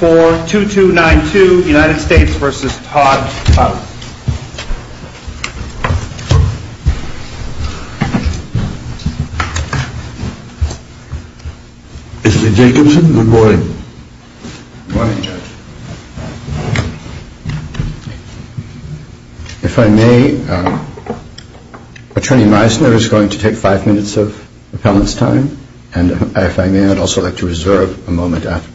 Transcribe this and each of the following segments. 42292 United States v. Todd Collins. Mr. Jacobson, good morning. Good morning, Judge. If I may, Attorney Meisner is going to take five minutes of appellant's time, and if I may, I'd also like to reserve a minute. Yes,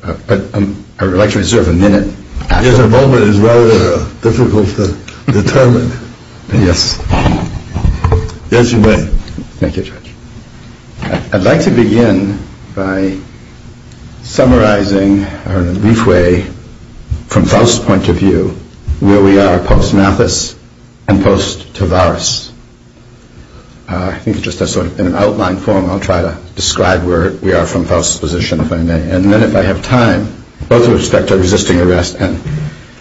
a moment is rather difficult to determine. Yes. Yes, you may. Thank you, Judge. I'd like to begin by summarizing in a brief way, from Faust's point of view, where we are post-Mathis and post-Tavaris. I think it's just a sort of, in an outline form, I'll try to describe where we are from Faust's position, if I may. And then if I have time, both with respect to resisting arrest and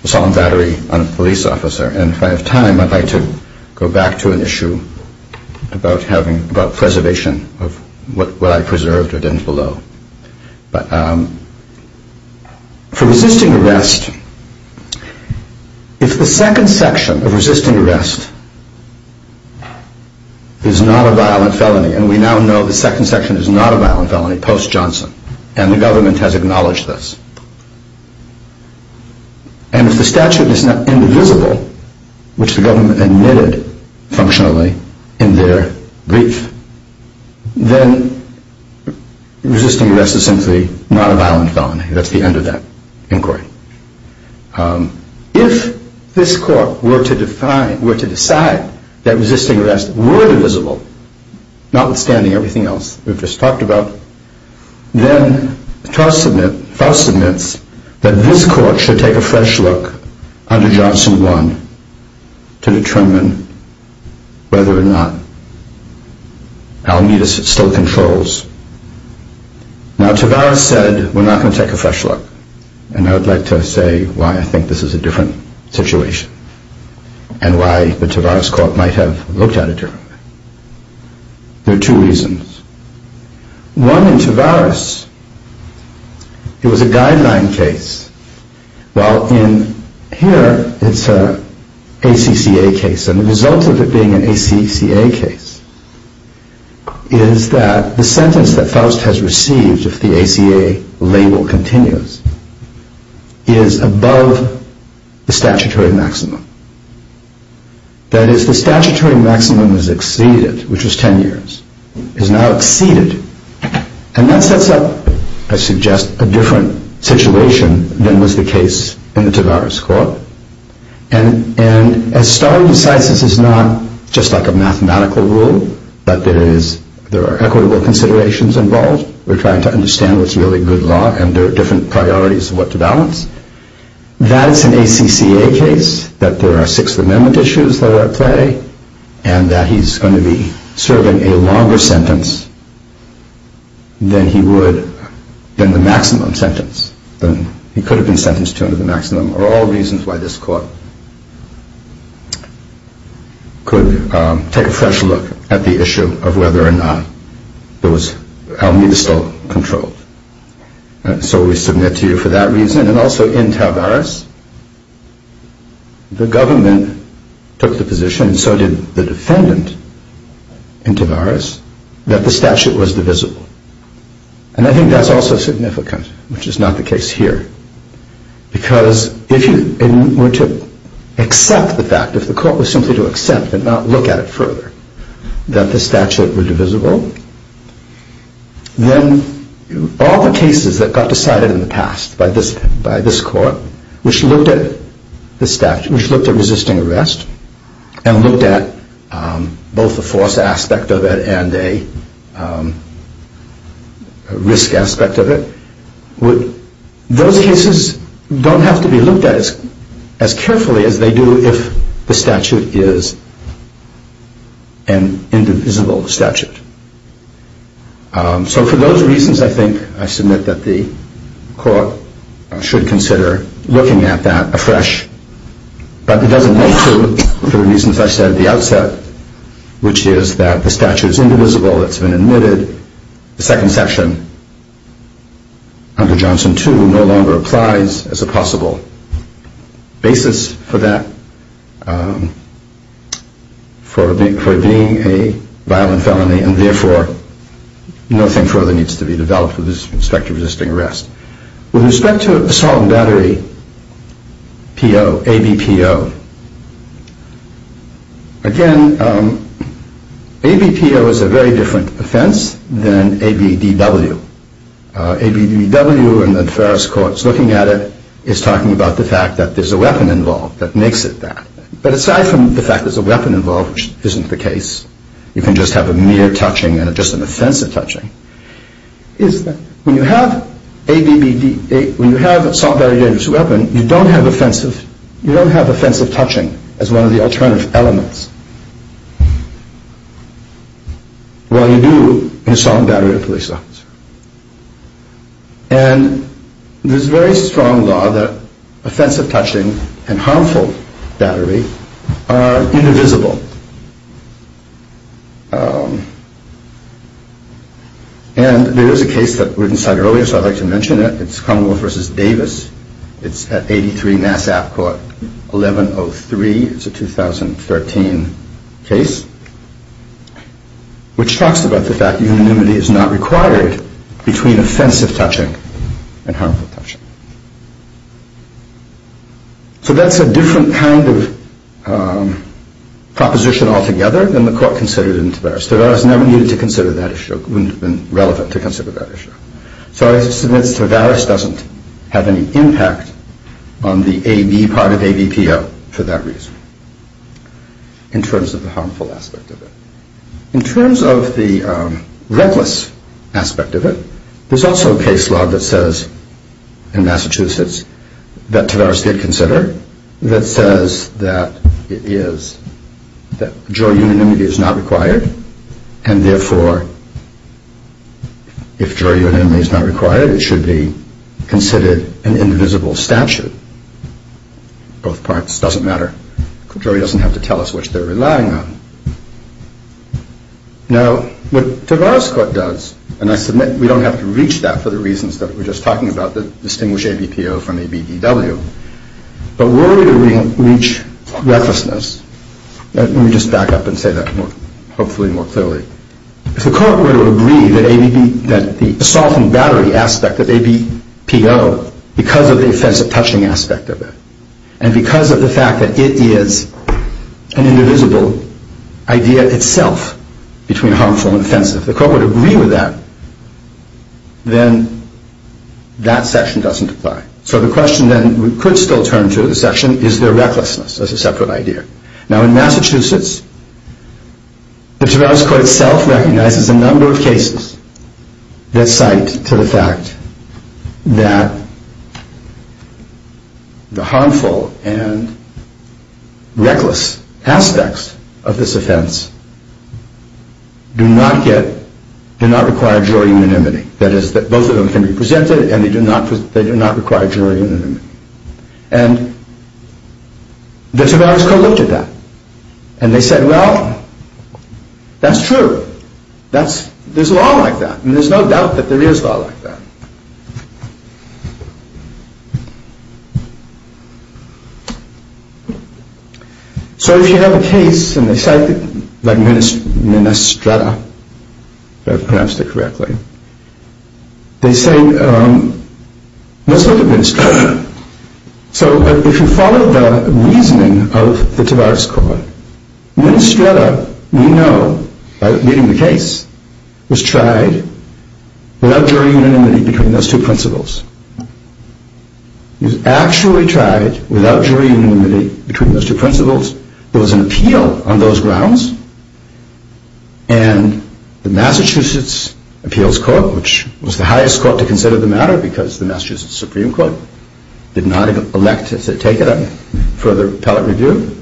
the solemn battery on a police officer. And if I have time, I'd like to go back to an issue about preservation of what I preserved or didn't below. But for resisting arrest, if the second section of resisting arrest is not a violent felony, and we now know the second section is not a violent felony post-Johnson, and the government has acknowledged this. And if the statute is not indivisible, which the government admitted functionally in their brief, then resisting arrest is simply not a violent felony. That's the end of that inquiry. If this court were to decide that resisting arrests were indivisible, notwithstanding everything else we've just talked about, then Faust admits that this court should take a fresh look under Johnson 1 to determine whether or not Alameda still controls. Now, Tavaris said, we're not going to take a fresh look. And I would like to say why I think this is a different situation, and why the Tavaris court might have looked at it differently. There are two reasons. One, in Tavaris, it was a guideline case, while in here, it's an ACCA case. And the result of it being an ACCA case is that the sentence that Faust has received, if the ACA label continues, is above the statutory maximum. That is, the statutory maximum is exceeded, which was 10 years, is now exceeded. And that sets up, I suggest, a different situation than was the case in the Tavaris court. And as Starr decides, this is not just like a mathematical rule, that there are equitable considerations involved. We're trying to understand what's really good law, and there are different priorities of what to balance. That's an ACCA case, that there are Sixth Amendment issues that are at play, and that he's going to be serving a longer sentence than the maximum sentence. He could have been sentenced to under the maximum, are all reasons why this court could take a fresh look at the issue of whether or not Alameda is still controlled. So we submit to you for that reason, and also in Tavaris, the government took the position, and so did the defendant in Tavaris, that the statute was divisible. And I think that's also significant, which is not the case here. Because if you were to accept the fact, if the court was simply to accept and not look at it further, that the statute were divisible, then all the cases that got decided in the past by this court, which looked at resisting arrest, and looked at both the force aspect of it and a risk aspect of it, those cases don't have to be looked at as carefully as they do if the statute is an indivisible statute. So for those reasons, I think I submit that the court should consider looking at that afresh. But it doesn't hold true for the reasons I said at the outset, which is that the statute is indivisible, it's been admitted, the second section, under Johnson 2, no longer applies as a possible basis for that, for being a violent felony, and therefore nothing further needs to be developed with respect to resisting arrest. With respect to assault and battery, ABPO, again, ABPO is a very different offense than ABDW. ABDW, in the Ferris courts looking at it, is talking about the fact that there's a weapon involved that makes it that. But aside from the fact that there's a weapon involved, which isn't the case, you can just have a mere touching and just an offensive touching, is that when you have assault, battery, dangerous weapon, you don't have offensive touching as one of the alternative elements, while you do in assault and battery or police violence. And there's a very strong law that offensive touching and harmful battery are indivisible. And there is a case that was cited earlier, so I'd like to mention it. It's Commonwealth v. Davis. It's at 83 Mass. App. Court, 1103. It's a 2013 case, which talks about the fact that unanimity is not required between offensive touching and harmful touching. So that's a different kind of proposition altogether than the court considered in Tavares. Tavares never needed to consider that issue. It wouldn't have been relevant to consider that issue. So I submit Tavares doesn't have any impact on the AB part of ABPO for that reason, in terms of the harmful aspect of it. In terms of the reckless aspect of it, there's also a case law that says, in Massachusetts, that Tavares did consider, that says that it is, that jury unanimity is not required, and therefore if jury unanimity is not required, it should be considered an invisible statute. Both parts doesn't matter. The jury doesn't have to tell us which they're relying on. Now, what Tavares court does, and I submit we don't have to reach that for the reasons that we're just talking about, the distinguished ABPO from ABDW, but where do we reach recklessness? Let me just back up and say that hopefully more clearly. If the court were to agree that the assault and battery aspect of ABPO, because of the offensive touching aspect of it, and because of the fact that it is an indivisible idea itself between harmful and offensive, if the court were to agree with that, then that section doesn't apply. So the question then we could still turn to, the section, is there recklessness? That's a separate idea. Now, in Massachusetts, the Tavares court itself recognizes a number of cases that cite to the fact that the harmful and reckless aspects of this offense do not require jury unanimity. That is, both of them can be presented, and they do not require jury unanimity. And the Tavares court looked at that. And they said, well, that's true. There's law like that, and there's no doubt that there is law like that. So if you have a case, and they cite it, like Minestrata, if I've pronounced it correctly, they say, let's look at Minestrata. So if you follow the reasoning of the Tavares court, Minestrata, we know, by reading the case, was tried without jury unanimity between those two principles. It was actually tried without jury unanimity between those two principles. There was an appeal on those grounds. And the Massachusetts appeals court, which was the highest court to consider the matter because the Massachusetts Supreme Court did not elect to take it up for further appellate review,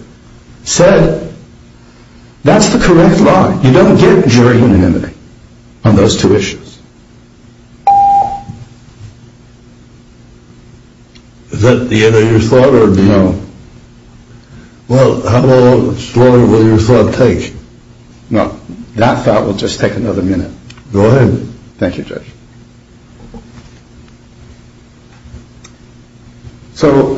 said, that's the correct law. You don't get jury unanimity on those two issues. Is that the end of your thought? No. Well, how long will your thought take? Well, that thought will just take another minute. Go ahead. Thank you, Judge. So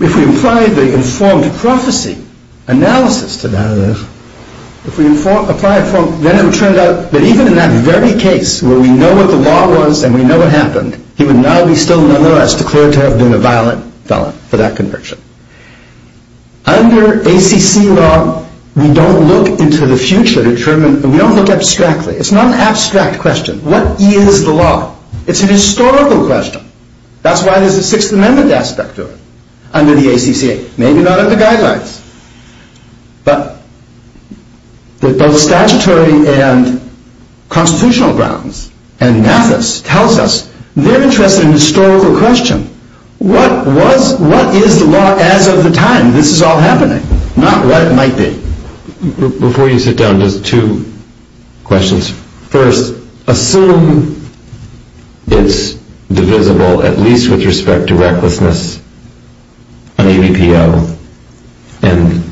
if we apply the informed prophecy analysis to that, if we apply it, then it would turn out that even in that very case, where we know what the law was and we know what happened, he would not be still nonetheless declared to have been a violent felon for that conviction. Under ACC law, we don't look into the future. We don't look abstractly. It's not an abstract question. What is the law? It's a historical question. That's why there's a Sixth Amendment aspect to it under the ACC. Maybe not in the guidelines. But both statutory and constitutional grounds and Mathis tells us they're interested in a historical question. What is the law as of the time this is all happening? Not what it might be. Before you sit down, just two questions. First, assume it's divisible at least with respect to recklessness on ABPL and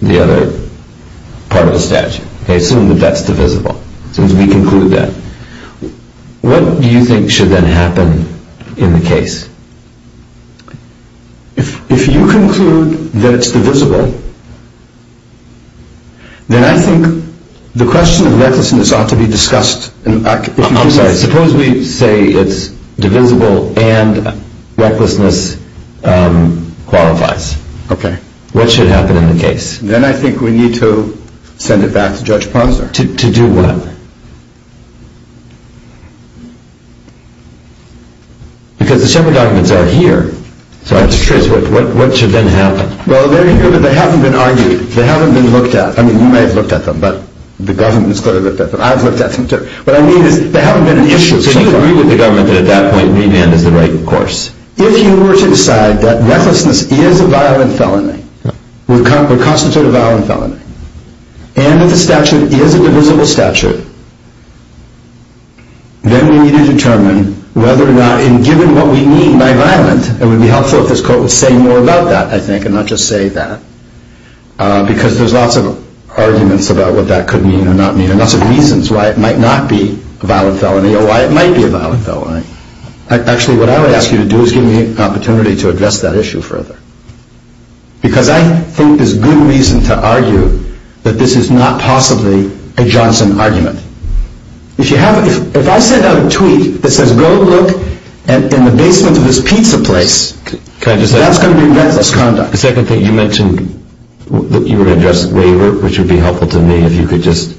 the other part of the statute. Assume that that's divisible. Since we conclude that. What do you think should then happen in the case? If you conclude that it's divisible, then I think the question of recklessness ought to be discussed. I'm sorry. Suppose we say it's divisible and recklessness qualifies. Okay. What should happen in the case? Then I think we need to send it back to Judge Posner. To do what? Because the summary documents are here. What should then happen? Well, they haven't been argued. They haven't been looked at. I mean, you may have looked at them, but the government has clearly looked at them. I've looked at them, too. What I mean is there haven't been an issue. So you agree with the government that at that point remand is the right course? If you were to decide that recklessness is a violent felony, would constitute a violent felony, and that the statute is a divisible statute, then we need to determine whether or not, and given what we mean by violent, it would be helpful if this court would say more about that, I think, and not just say that, because there's lots of arguments about what that could mean or not mean and lots of reasons why it might not be a violent felony or why it might be a violent felony. Actually, what I would ask you to do is give me an opportunity to address that issue further, because I think there's good reason to argue that this is not possibly a Johnson argument. If I send out a tweet that says, go look in the basement of this pizza place, that's going to be reckless conduct. The second thing, you mentioned that you would address the waiver, which would be helpful to me if you could just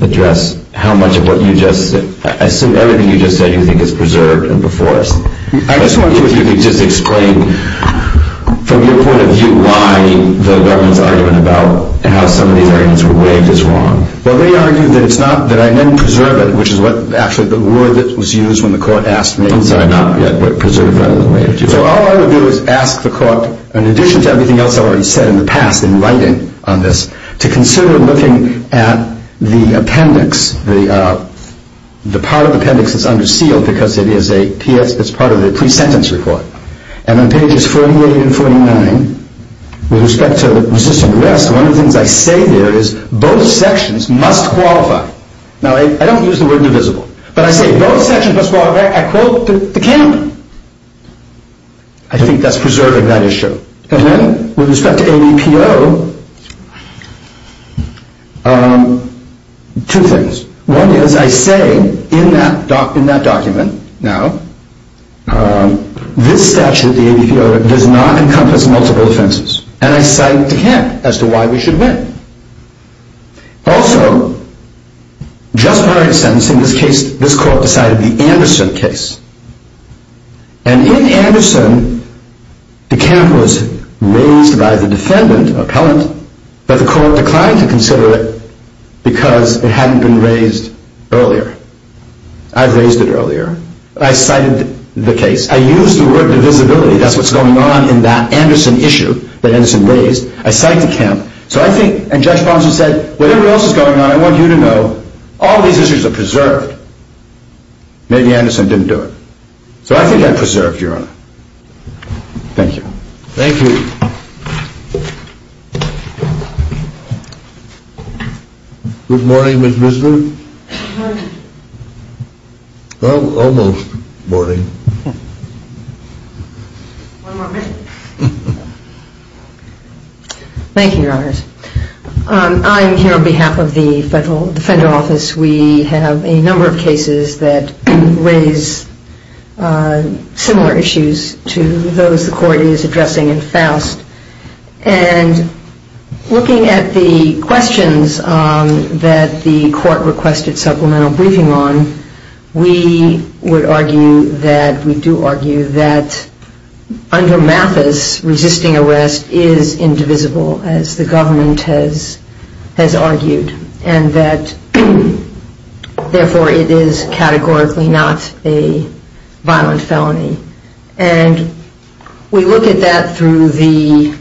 address how much of what you just said, I assume everything you just said you think is preserved and before us. I just wonder if you could just explain, from your point of view, why the government's argument about how some of these arguments were waived is wrong. Well, they argue that it's not that I then preserve it, which is actually the word that was used when the court asked me. I'm sorry, not yet, but preserve rather than waive. So all I would do is ask the court, in addition to everything else I've already said in the past in writing on this, to consider looking at the appendix. The part of the appendix that's under seal because it's part of the pre-sentence report. And on pages 48 and 49, with respect to the resisting arrest, one of the things I say there is both sections must qualify. Now, I don't use the word divisible, but I say both sections must qualify. I quote the count. I think that's preserving that issue. And then, with respect to ABPO, two things. One is I say in that document now, this statute, the ABPO, does not encompass multiple offenses. And I cite the count as to why we should win. Also, just prior to sentencing, this court decided the Anderson case. And in Anderson, the count was raised by the defendant, appellant, but the court declined to consider it because it hadn't been raised earlier. I've raised it earlier. I cited the case. I used the word divisibility. That's what's going on in that Anderson issue that Anderson raised. I cite the count. So I think, and Judge Ponson said, whatever else is going on, I want you to know, all these issues are preserved. Maybe Anderson didn't do it. So I think they're preserved, Your Honor. Thank you. Thank you. Good morning, Ms. Bisbee. Good morning. Well, almost morning. One more minute. Thank you, Your Honors. I'm here on behalf of the federal office. We have a number of cases that raise similar issues to those the court is addressing in Faust. And looking at the questions that the court requested supplemental briefing on, we would argue that, we do argue that, under Mathis, resisting arrest is indivisible, as the government has argued, and that, therefore, it is categorically not a violent felony. And we look at that through the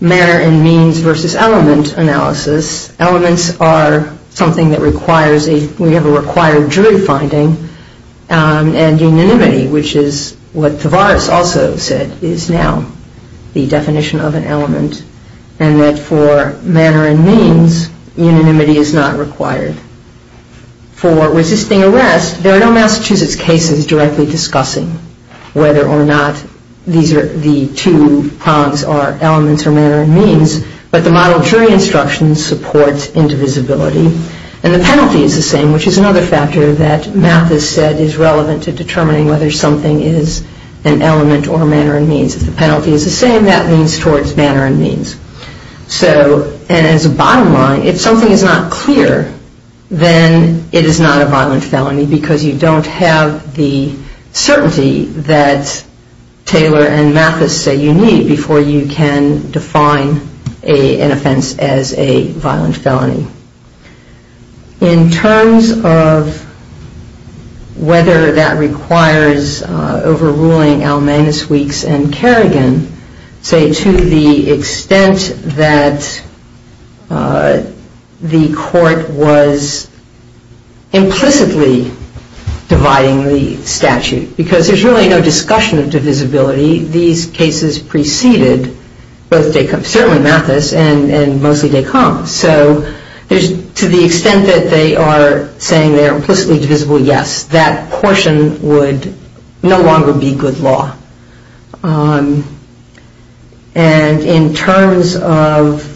manner and means versus element analysis. Elements are something that requires a, we have a required jury finding, and unanimity, which is what Tavares also said, is now the definition of an element, and that, for manner and means, unanimity is not required. For resisting arrest, there are no Massachusetts cases directly discussing whether or not these are, the two prongs are elements or manner and means, but the model jury instruction supports indivisibility. And the penalty is the same, which is another factor that Mathis said is relevant to determining whether something is an element or a manner and means. If the penalty is the same, that means towards manner and means. So, and as a bottom line, if something is not clear, then it is not a violent felony, because you don't have the certainty that Taylor and Mathis say you need before you can define an offense as a violent felony. In terms of whether that requires overruling Almanis, Weeks, and Kerrigan, say to the extent that the court was implicitly dividing the statute, because there's really no discussion of divisibility, these cases preceded, certainly Mathis, and mostly Descombes, so to the extent that they are saying they are implicitly divisible, yes, that portion would no longer be good law. And in terms of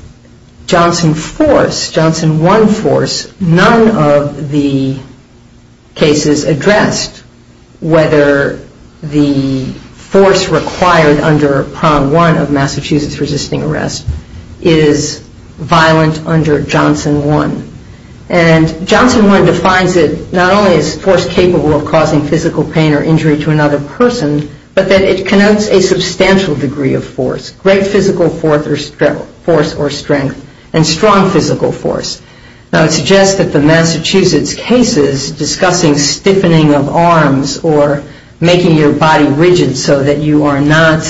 Johnson force, Johnson 1 force, none of the cases addressed whether the force required under Prong 1 of Massachusetts resisting arrest is violent under Johnson 1. And Johnson 1 defines it not only as force capable of causing physical pain or injury to another person, but that it connotes a substantial degree of force, great physical force or strength, and strong physical force. Now it suggests that the Massachusetts cases discussing stiffening of arms or making your body rigid so that you are not,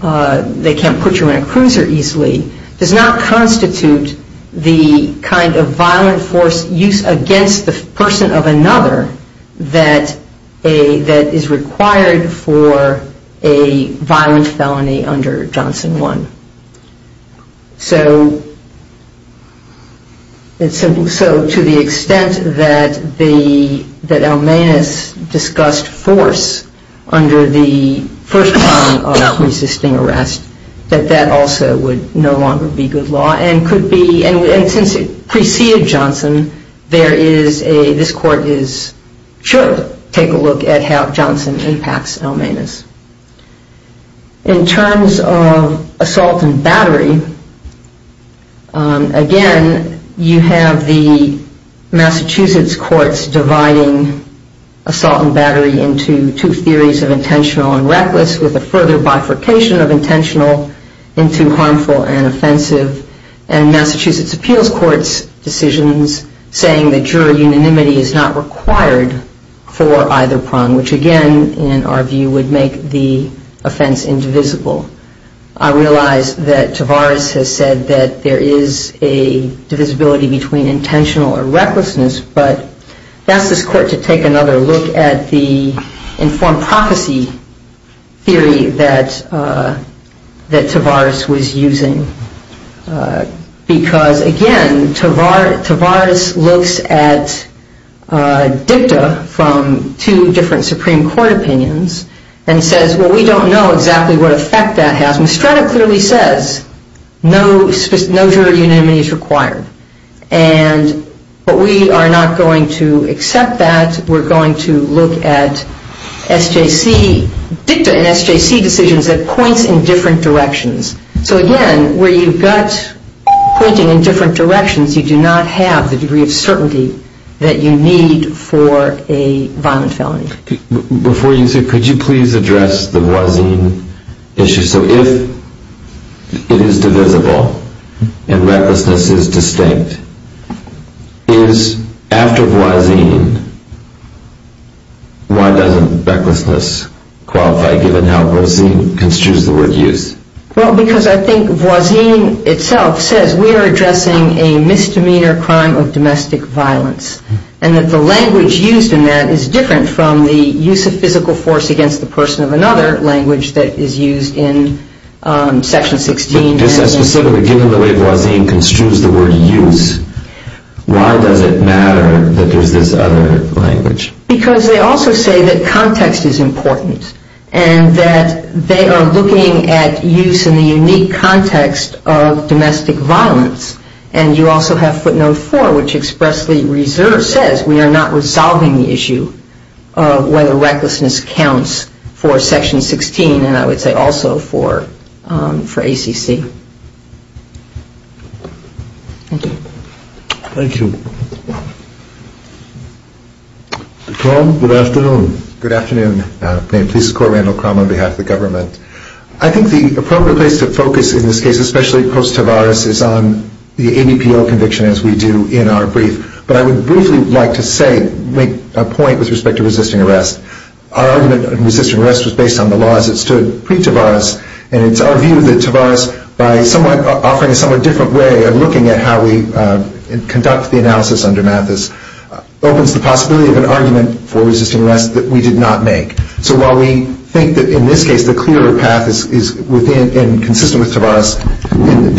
they can't put you in a cruiser easily, does not constitute the kind of violent force used against the person of another that is required for a violent felony under Johnson 1. So to the extent that Almanis discussed force under the first prong of resisting arrest, that that also would no longer be good law and could be, and since it preceded Johnson, there is a, this court should take a look at how Johnson impacts Almanis. In terms of assault and battery, again, you have the Massachusetts courts dividing assault and battery into two theories of intentional and reckless with a further bifurcation of intentional into harmful and offensive, and Massachusetts appeals courts' decisions saying that jury unanimity is not required for either prong, which again, in our view, would make the offense indivisible. I realize that Tavares has said that there is a divisibility between intentional or recklessness, but I ask this court to take another look at the informed prophecy theory that Tavares was using, because again, Tavares looks at dicta from two different Supreme Court opinions, and says, well, we don't know exactly what effect that has. Mostrada clearly says no jury unanimity is required, but we are not going to accept that. We're going to look at SJC dicta and SJC decisions that points in different directions. So again, where you've got pointing in different directions, you do not have the degree of certainty that you need for a violent felony. Before you say, could you please address the Voisin issue? So if it is divisible and recklessness is distinct, is after Voisin, why doesn't recklessness qualify, given how Voisin construes the word use? Well, because I think Voisin itself says we are addressing a misdemeanor crime of domestic violence, and that the language used in that is different from the use of physical force against the person of another language that is used in Section 16. Specifically, given the way Voisin construes the word use, why does it matter that there's this other language? Because they also say that context is important, and that they are looking at use in the unique context of domestic violence. And you also have footnote four, which expressly says we are not resolving the issue of whether recklessness counts for Section 16, and I would say also for ACC. Thank you. Thank you. Crom, good afternoon. Good afternoon. I think the appropriate place to focus in this case, especially post-Tavares, is on the ADPO conviction, as we do in our brief. But I would briefly like to make a point with respect to resisting arrest. Our argument in resisting arrest was based on the laws that stood pre-Tavares, and it's our view that Tavares, by offering a somewhat different way of looking at how we conduct the analysis under Mathis, opens the possibility of an argument for resisting arrest that we did not make. So while we think that in this case the clearer path is within and consistent with Tavares,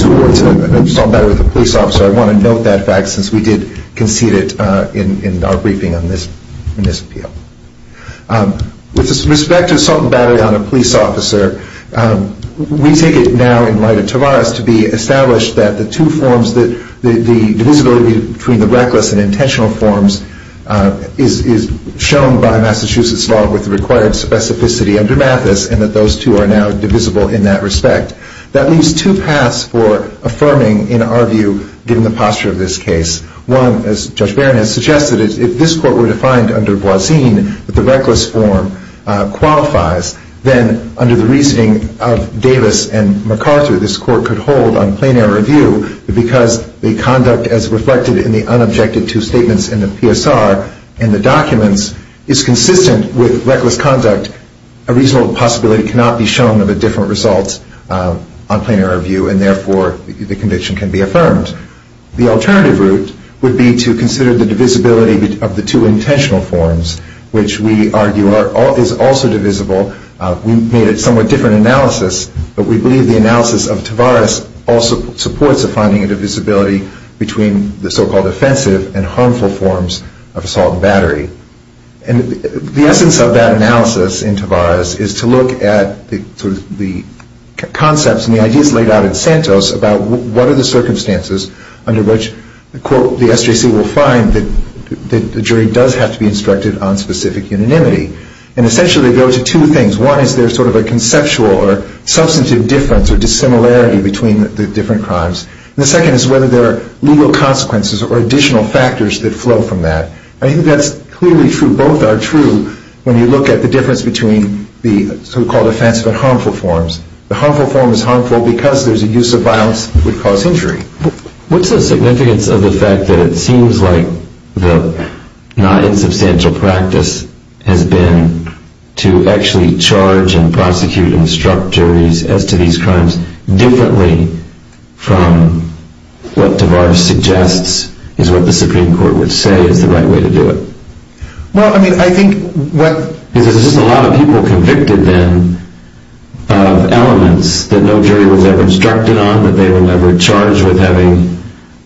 towards an assault and battle with a police officer, I want to note that fact, since we did concede it in our briefing on this appeal. With respect to assault and battle on a police officer, we take it now in light of Tavares to be established that the divisibility between the reckless and intentional forms is shown by Massachusetts law with the required specificity under Mathis, and that those two are now divisible in that respect. That leaves two paths for affirming, in our view, given the posture of this case. One, as Judge Barron has suggested, is if this court were defined under Boisin, that the reckless form qualifies, then under the reasoning of Davis and McArthur, this court could hold on plain error view, because the conduct as reflected in the unobjected two statements in the PSR and the documents is consistent with reckless conduct. A reasonable possibility cannot be shown of a different result on plain error view, and therefore the conviction can be affirmed. The alternative route would be to consider the divisibility of the two intentional forms, which we argue is also divisible. We made a somewhat different analysis, but we believe the analysis of Tavares also supports a finding of divisibility between the so-called offensive and harmful forms of assault and battery. And the essence of that analysis in Tavares is to look at the concepts and the ideas laid out in Santos about what are the circumstances under which, quote, the SJC will find that the jury does have to be instructed on specific unanimity. And essentially they go to two things. One is there's sort of a conceptual or substantive difference or dissimilarity between the different crimes. And the second is whether there are legal consequences or additional factors that flow from that. I think that's clearly true, both are true, when you look at the difference between the so-called offensive and harmful forms. The harmful form is harmful because there's a use of violence that would cause injury. What's the significance of the fact that it seems like the not-insubstantial practice has been to actually charge and prosecute and instruct juries as to these crimes differently from what Tavares suggests is what the Supreme Court would say is the right way to do it? Well, I mean, I think what... Because there's just a lot of people convicted then of elements that no jury was ever instructed on, but they were never charged with having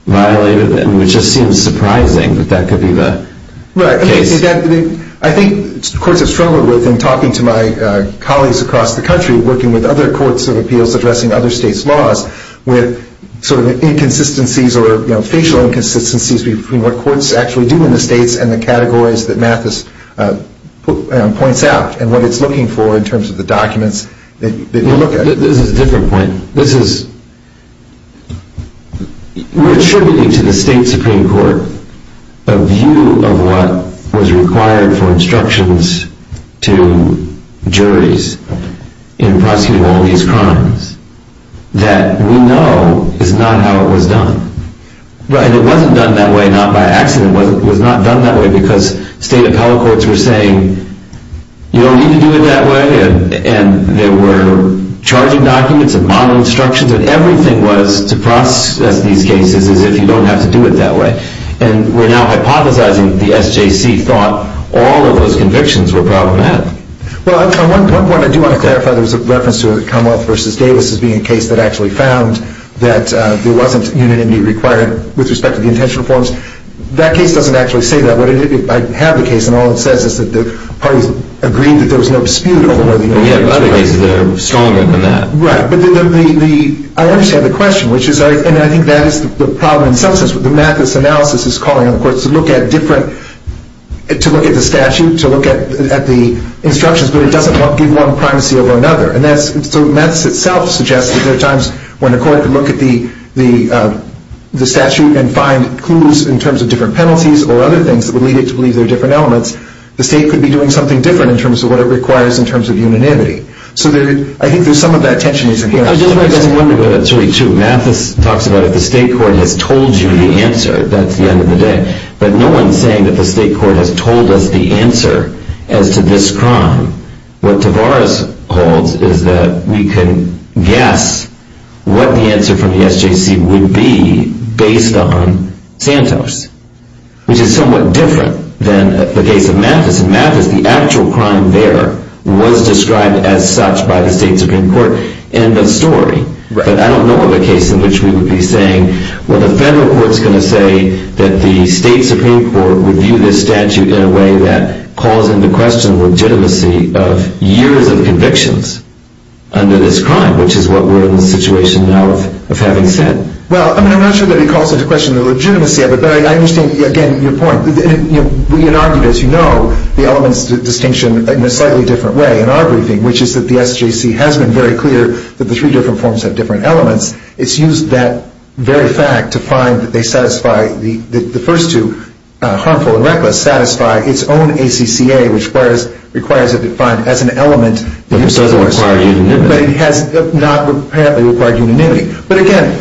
violated them. It just seems surprising that that could be the case. Right. I think courts have struggled with, and talking to my colleagues across the country working with other courts of appeals addressing other states' laws, with sort of inconsistencies or facial inconsistencies between what courts actually do in the states and the categories that Mathis points out and what it's looking for in terms of the documents that you look at. This is a different point. This is... We're attributing to the state Supreme Court a view of what was required for instructions to juries in prosecuting all these crimes that we know is not how it was done. And it wasn't done that way not by accident. It was not done that way because state appellate courts were saying, you don't need to do it that way. And there were charging documents and model instructions and everything was to process these cases as if you don't have to do it that way. And we're now hypothesizing that the SJC thought all of those convictions were problematic. Well, on one point I do want to clarify there was a reference to Commonwealth v. Davis as being a case that actually found that there wasn't unanimity required with respect to the intentional forms. That case doesn't actually say that. I have the case and all it says is that the parties agreed that there was no dispute over the... We have other cases that are stronger than that. Right, but the... I understand the question, which is... And I think that is the problem in some sense with the Mathis analysis is calling on the courts to look at different... to look at the statute, to look at the instructions, but it doesn't give one primacy over another. And that's... So Mathis itself suggests that there are times when a court can look at the statute and find clues in terms of different penalties or other things that would lead it to believe there are different elements. The state could be doing something different in terms of what it requires in terms of unanimity. So there... I think there's some of that tension that's in here. I just wanted to go to that story, too. Mathis talks about if the state court has told you the answer, that's the end of the day. But no one's saying that the state court has told us the answer as to this crime. What Tavares holds is that we can guess what the answer from the SJC would be based on Santos, which is somewhat different than the case of Mathis. In Mathis, the actual crime there was described as such by the state supreme court. End of story. But I don't know of a case in which we would be saying, well, the federal court's going to say that the state supreme court would view this statute in a way that calls into question the legitimacy of years of convictions under this crime, which is what we're in the situation now of having said. Well, I mean, I'm not sure that it calls into question the legitimacy of it, but I understand, again, your point. We had argued, as you know, the elements of distinction in a slightly different way in our briefing, which is that the SJC has been very clear that the three different forms have different elements. It's used that very fact to find that they satisfy, the first two, harmful and reckless, satisfy its own ACCA, which requires it defined as an element that uses the words. But it doesn't require unanimity. But it has not apparently required unanimity. But again,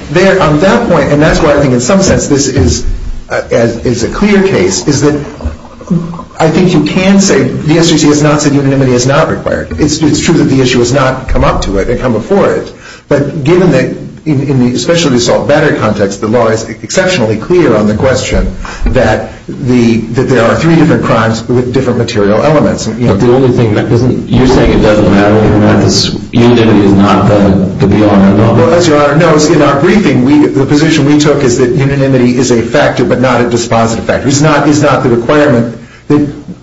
on that point, and that's why I think in some sense this is a clear case, is that I think you can say the SJC has not said unanimity is not required. It's true that the issue has not come up to it or come before it, but given that in the specialty assault battery context, the law is exceptionally clear on the question that there are three different crimes with different material elements. But the only thing that isn't, you're saying it doesn't matter, unanimity is not the be-all and end-all. Well, as Your Honor knows, in our briefing, the position we took is that unanimity is a factor, but not a dispositive factor. It's not the requirement.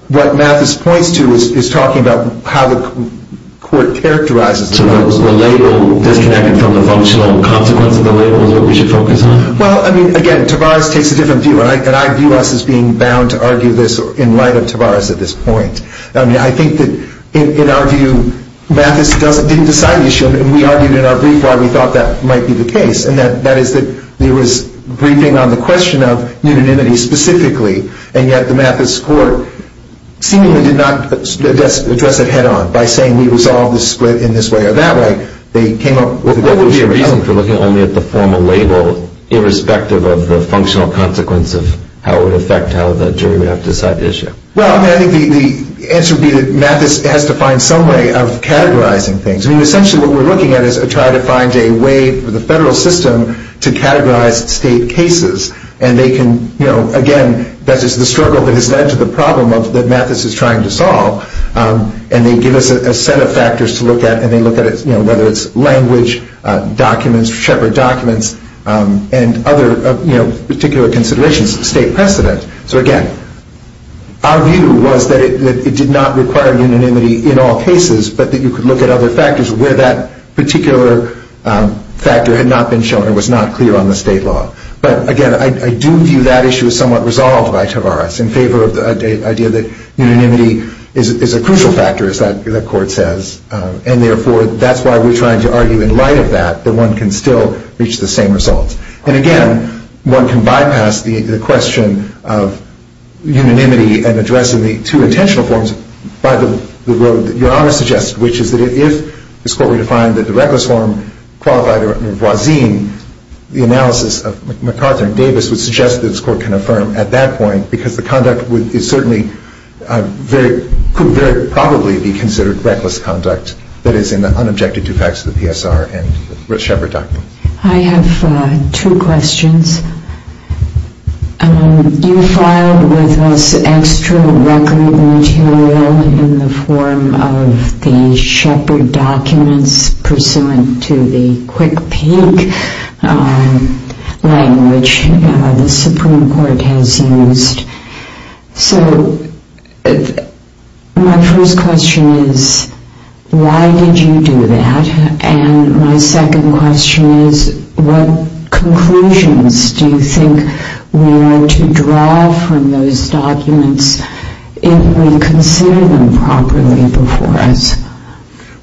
What Mathis points to is talking about how the court characterizes those. So the label disconnected from the functional consequence of the label is what we should focus on? Well, I mean, again, Tavares takes a different view, and I view us as being bound to argue this in light of Tavares at this point. I mean, I think that in our view, Mathis didn't decide the issue, and we argued in our brief why we thought that might be the case, and that is that there was briefing on the question of unanimity specifically, and yet the Mathis court seemingly did not address it head-on by saying we resolve the split in this way or that way. They came up with a different view. What would be your reason for looking only at the formal label irrespective of the functional consequence of how it would affect how the jury would have to decide the issue? Well, I mean, I think the answer would be that Mathis has to find some way of categorizing things. I mean, essentially what we're looking at is trying to find a way for the federal system to categorize state cases, and they can, you know, again, that is the struggle that has led to the problem that Mathis is trying to solve, and they give us a set of factors to look at, and they look at it, you know, whether it's language, documents, shepherd documents, and other, you know, particular considerations, state precedent. So, again, our view was that it did not require unanimity in all cases, but that you could look at other factors where that particular factor had not been shown or was not clear on the state law. But, again, I do view that issue as somewhat resolved by Tavares in favor of the idea that unanimity is a crucial factor, as that court says, and, therefore, that's why we're trying to argue in light of that that one can still reach the same results. And, again, one can bypass the question of unanimity and addressing the two intentional forms by the road that Your Honor suggested, which is that if this Court were to find that the reckless form qualified a voisin, the analysis of MacArthur and Davis would suggest that this Court can affirm at that point because the conduct is certainly very, could very probably be considered reckless conduct that is in the unobjected two facts of the PSR and the shepherd documents. I have two questions. You filed with us extra record material in the form of the shepherd documents pursuant to the Quick Peek language the Supreme Court has used. So, my first question is, why did you do that? And my second question is, what conclusions do you think we are to draw from those documents if we consider them properly before us?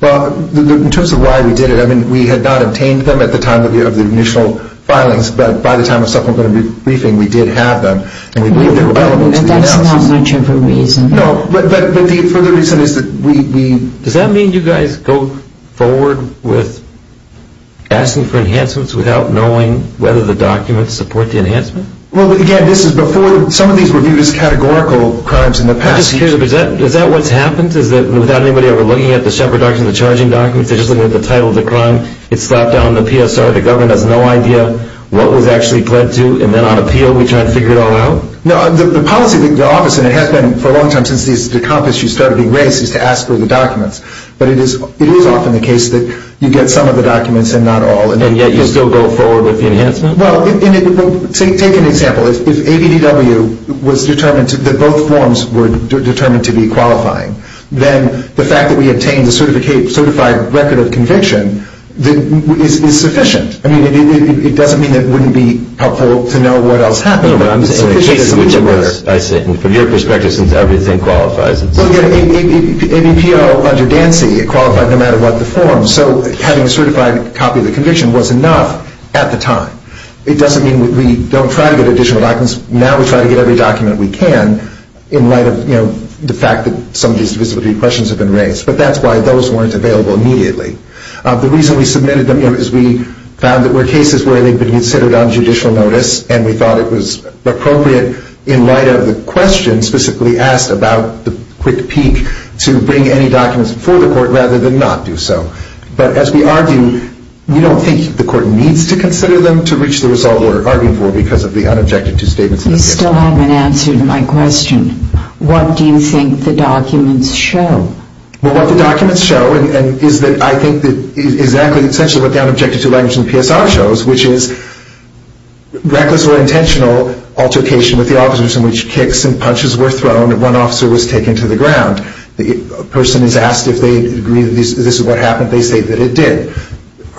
Well, in terms of why we did it, I mean, we had not obtained them at the time of the initial filings, but by the time of supplementary briefing, we did have them, and we believe they were valid. But that's not much of a reason. No, but the further reason is that we, does that mean you guys go forward with asking for enhancements without knowing whether the documents support the enhancement? Well, again, this is before, some of these were viewed as categorical crimes in the past. I'm just curious, is that what's happened? Is that without anybody ever looking at the shepherd documents, the charging documents, they're just looking at the title of the crime, it's slapped down on the PSR, the government has no idea what was actually pled to, and then on appeal, we try to figure it all out? No, the policy of the office, and it has been for a long time since these decompasses started being raised, is to ask for the documents. But it is often the case that you get some of the documents and not all. And yet you still go forward with the enhancement? Well, take an example. If ABDW was determined, that both forms were determined to be qualifying, then the fact that we obtained the certified record of conviction is sufficient. I mean, it doesn't mean it wouldn't be helpful to know what else happened. No, but I'm just saying the case in which it was, from your perspective, since everything qualifies. Well, again, ABPO under Dancy, it qualified no matter what the form. So having a certified copy of the conviction was enough at the time. It doesn't mean we don't try to get additional documents. Now we try to get every document we can in light of the fact that some of these divisibility questions have been raised. But that's why those weren't available immediately. The reason we submitted them is we found there were cases where they'd been considered on judicial notice and we thought it was appropriate in light of the questions specifically asked about the quick peek to bring any documents before the court rather than not do so. But as we argue, we don't think the court needs to consider them to reach the result we're arguing for because of the unobjected-to statements in the case. You still haven't answered my question. What do you think the documents show? Well, what the documents show, and is that I think that is exactly, essentially, what the unobjected-to language in the PSR shows, which is reckless or intentional altercation with the officers in which kicks and punches were thrown and one officer was taken to the ground. A person is asked if they agree that this is what happened. They say that it did.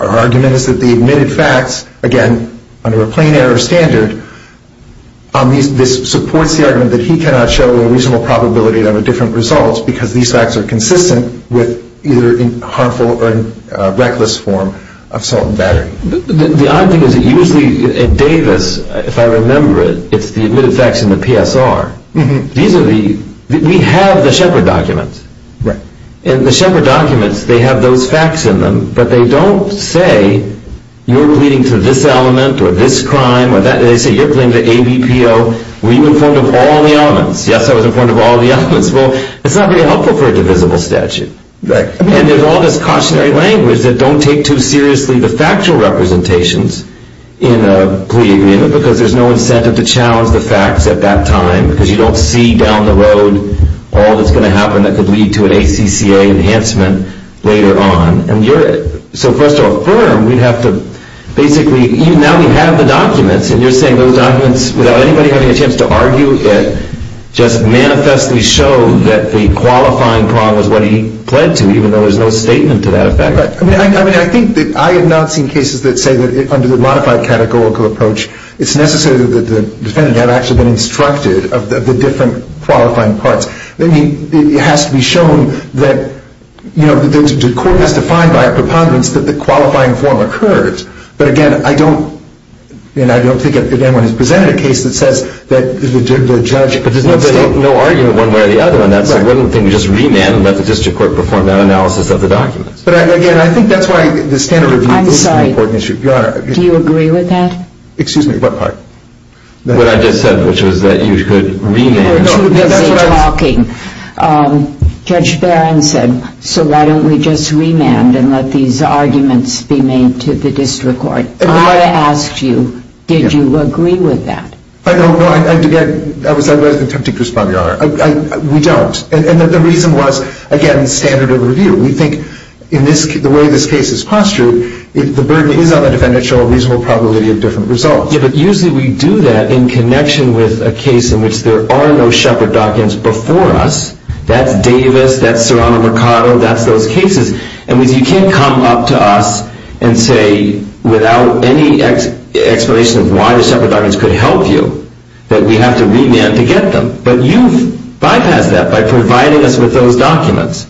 Our argument is that the admitted facts, again, under a plain-error standard, this supports the argument that he cannot show a reasonable probability that there were different results because these facts are consistent with either harmful or reckless form of assault and battery. The odd thing is that usually at Davis, if I remember it, it's the admitted facts in the PSR. These are the... We have the Shepard documents. Right. And the Shepard documents, they have those facts in them, but they don't say, you're pleading to this element or this crime. They say, you're pleading to ABPO. Were you informed of all the elements? Yes, I was informed of all the elements. Well, it's not very helpful for a divisible statute. Right. And there's all this cautionary language that don't take too seriously the factual representations in a plea agreement because there's no incentive to challenge the facts at that time because you don't see down the road all that's going to happen that could lead to an ACCA enhancement later on. And you're... So for us to affirm, we'd have to basically... Now we have the documents, and you're saying those documents, without anybody having a chance to argue it, just manifestly show that the qualifying problem is what he pled to, even though there's no statement to that effect. Right. that say that under the modified categorical approach, it's necessary that the defendant have actually been instructed of the different qualifying parts. I mean, it has to be shown that, you know, the court has to find by a preponderance that the qualifying form occurs. But again, I don't... And I don't think anyone has presented a case that says that the judge... But there's no argument one way or the other on that. Right. So I don't think we just remand and let the district court perform that analysis of the documents. But again, I think that's why the standard review... I'm sorry. ...is an important issue, Your Honor. Do you agree with that? Excuse me, what part? What I just said, which was that you could remand... No, no, that's what I was... ...busy talking. Judge Barron said, so why don't we just remand and let these arguments be made to the district court. I want to ask you, did you agree with that? I don't. No, I did not. I was attempting to respond, Your Honor. We don't. And the reason was, again, standard of review. We think in this... the way this case is postured, the burden is on the defendant to show a reasonable probability of different results. Yeah, but usually we do that in connection with a case in which there are no Shepard documents before us. That's Davis, that's Serrano Mercado, that's those cases. And you can't come up to us and say without any explanation of why the Shepard documents could help you that we have to remand to get them. But you've bypassed that by providing us with those documents.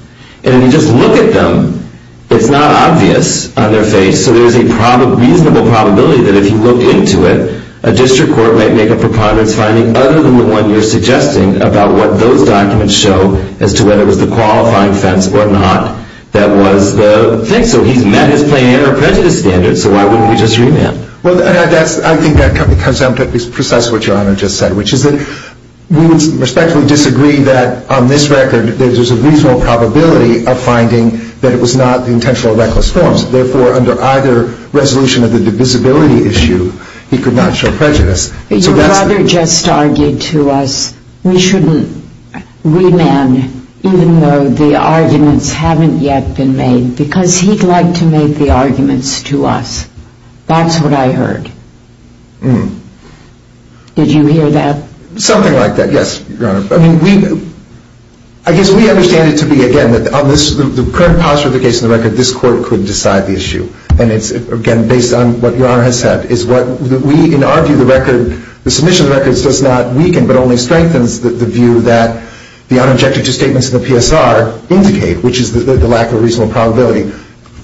And if you just look at them, it's not obvious on their face, so there's a reasonable probability that if you looked into it, a district court might make a preponderance finding other than the one you're suggesting about what those documents show as to whether it was the qualifying offense or not that was the thing. So he's met his plain error prejudice standard, so why wouldn't we just remand? Well, I think that comes down to precisely what Your Honor just said, which is that we would respectfully disagree that on this record that there's a reasonable probability of finding that it was not the intentional or reckless forms. Therefore, under either resolution of the divisibility issue, he could not show prejudice. Your brother just argued to us we shouldn't remand even though the arguments haven't yet been made because he'd like to make the arguments to us. That's what I heard. Hmm. Did you hear that? Something like that, yes, Your Honor. I mean, we... I guess we understand it to be, again, that on the current posture of the case, on the record, this court could decide the issue. And it's, again, based on what Your Honor has said, is what we, in our view, the record, the submission of the records does not weaken but only strengthens the view that the unobjective statements in the PSR indicate, which is the lack of a reasonable probability.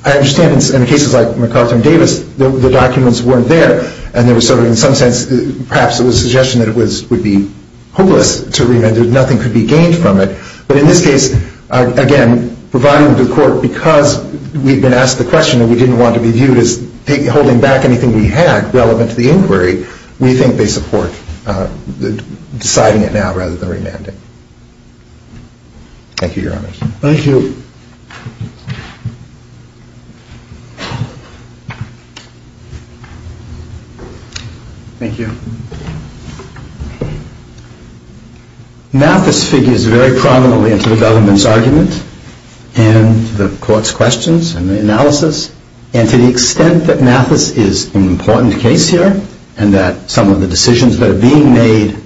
I understand in cases like McArthur and Davis, the documents weren't there, and there was sort of, in some sense, perhaps it was a suggestion that it would be hopeless to remand, that nothing could be gained from it. But in this case, again, providing the court, because we've been asked the question and we didn't want to be viewed as holding back anything we had relevant to the inquiry, we think they support deciding it now rather than remanding. Thank you, Your Honor. Thank you. Thank you. Mathis figures very prominently into the government's argument and the court's questions and the analysis. And to the extent that Mathis is an important case here and that some of the decisions that are being made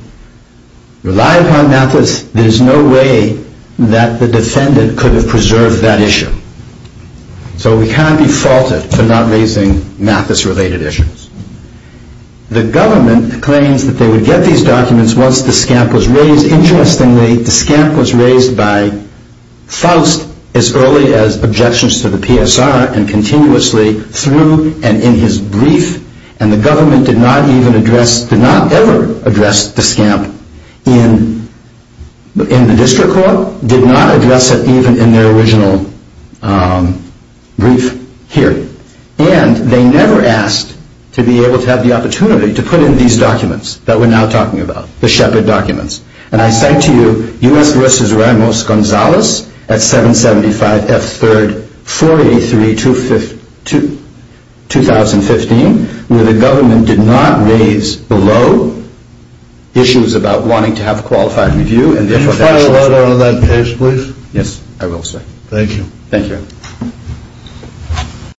rely upon Mathis, there's no way that the defendant could have preserved that issue. So we can't be faulted for not raising Mathis-related issues. The government claims that they would get these documents once the scamp was raised. Interestingly, the scamp was raised by Faust as early as objections to the PSR and continuously through and in his brief. And the government did not even address, did not ever address the scamp in the district court, did not address it even in their original brief here. And they never asked to be able to have the opportunity to put in these documents that we're now talking about, the Shepard documents. And I cite to you U.S. versus Ramos-Gonzalez at 775 F. 3rd 483 2015 where the government did not raise below issues about wanting to have a qualified review and their professionalism. Can you follow that up on that case please? Yes, I will sir. Thank you. Thank you.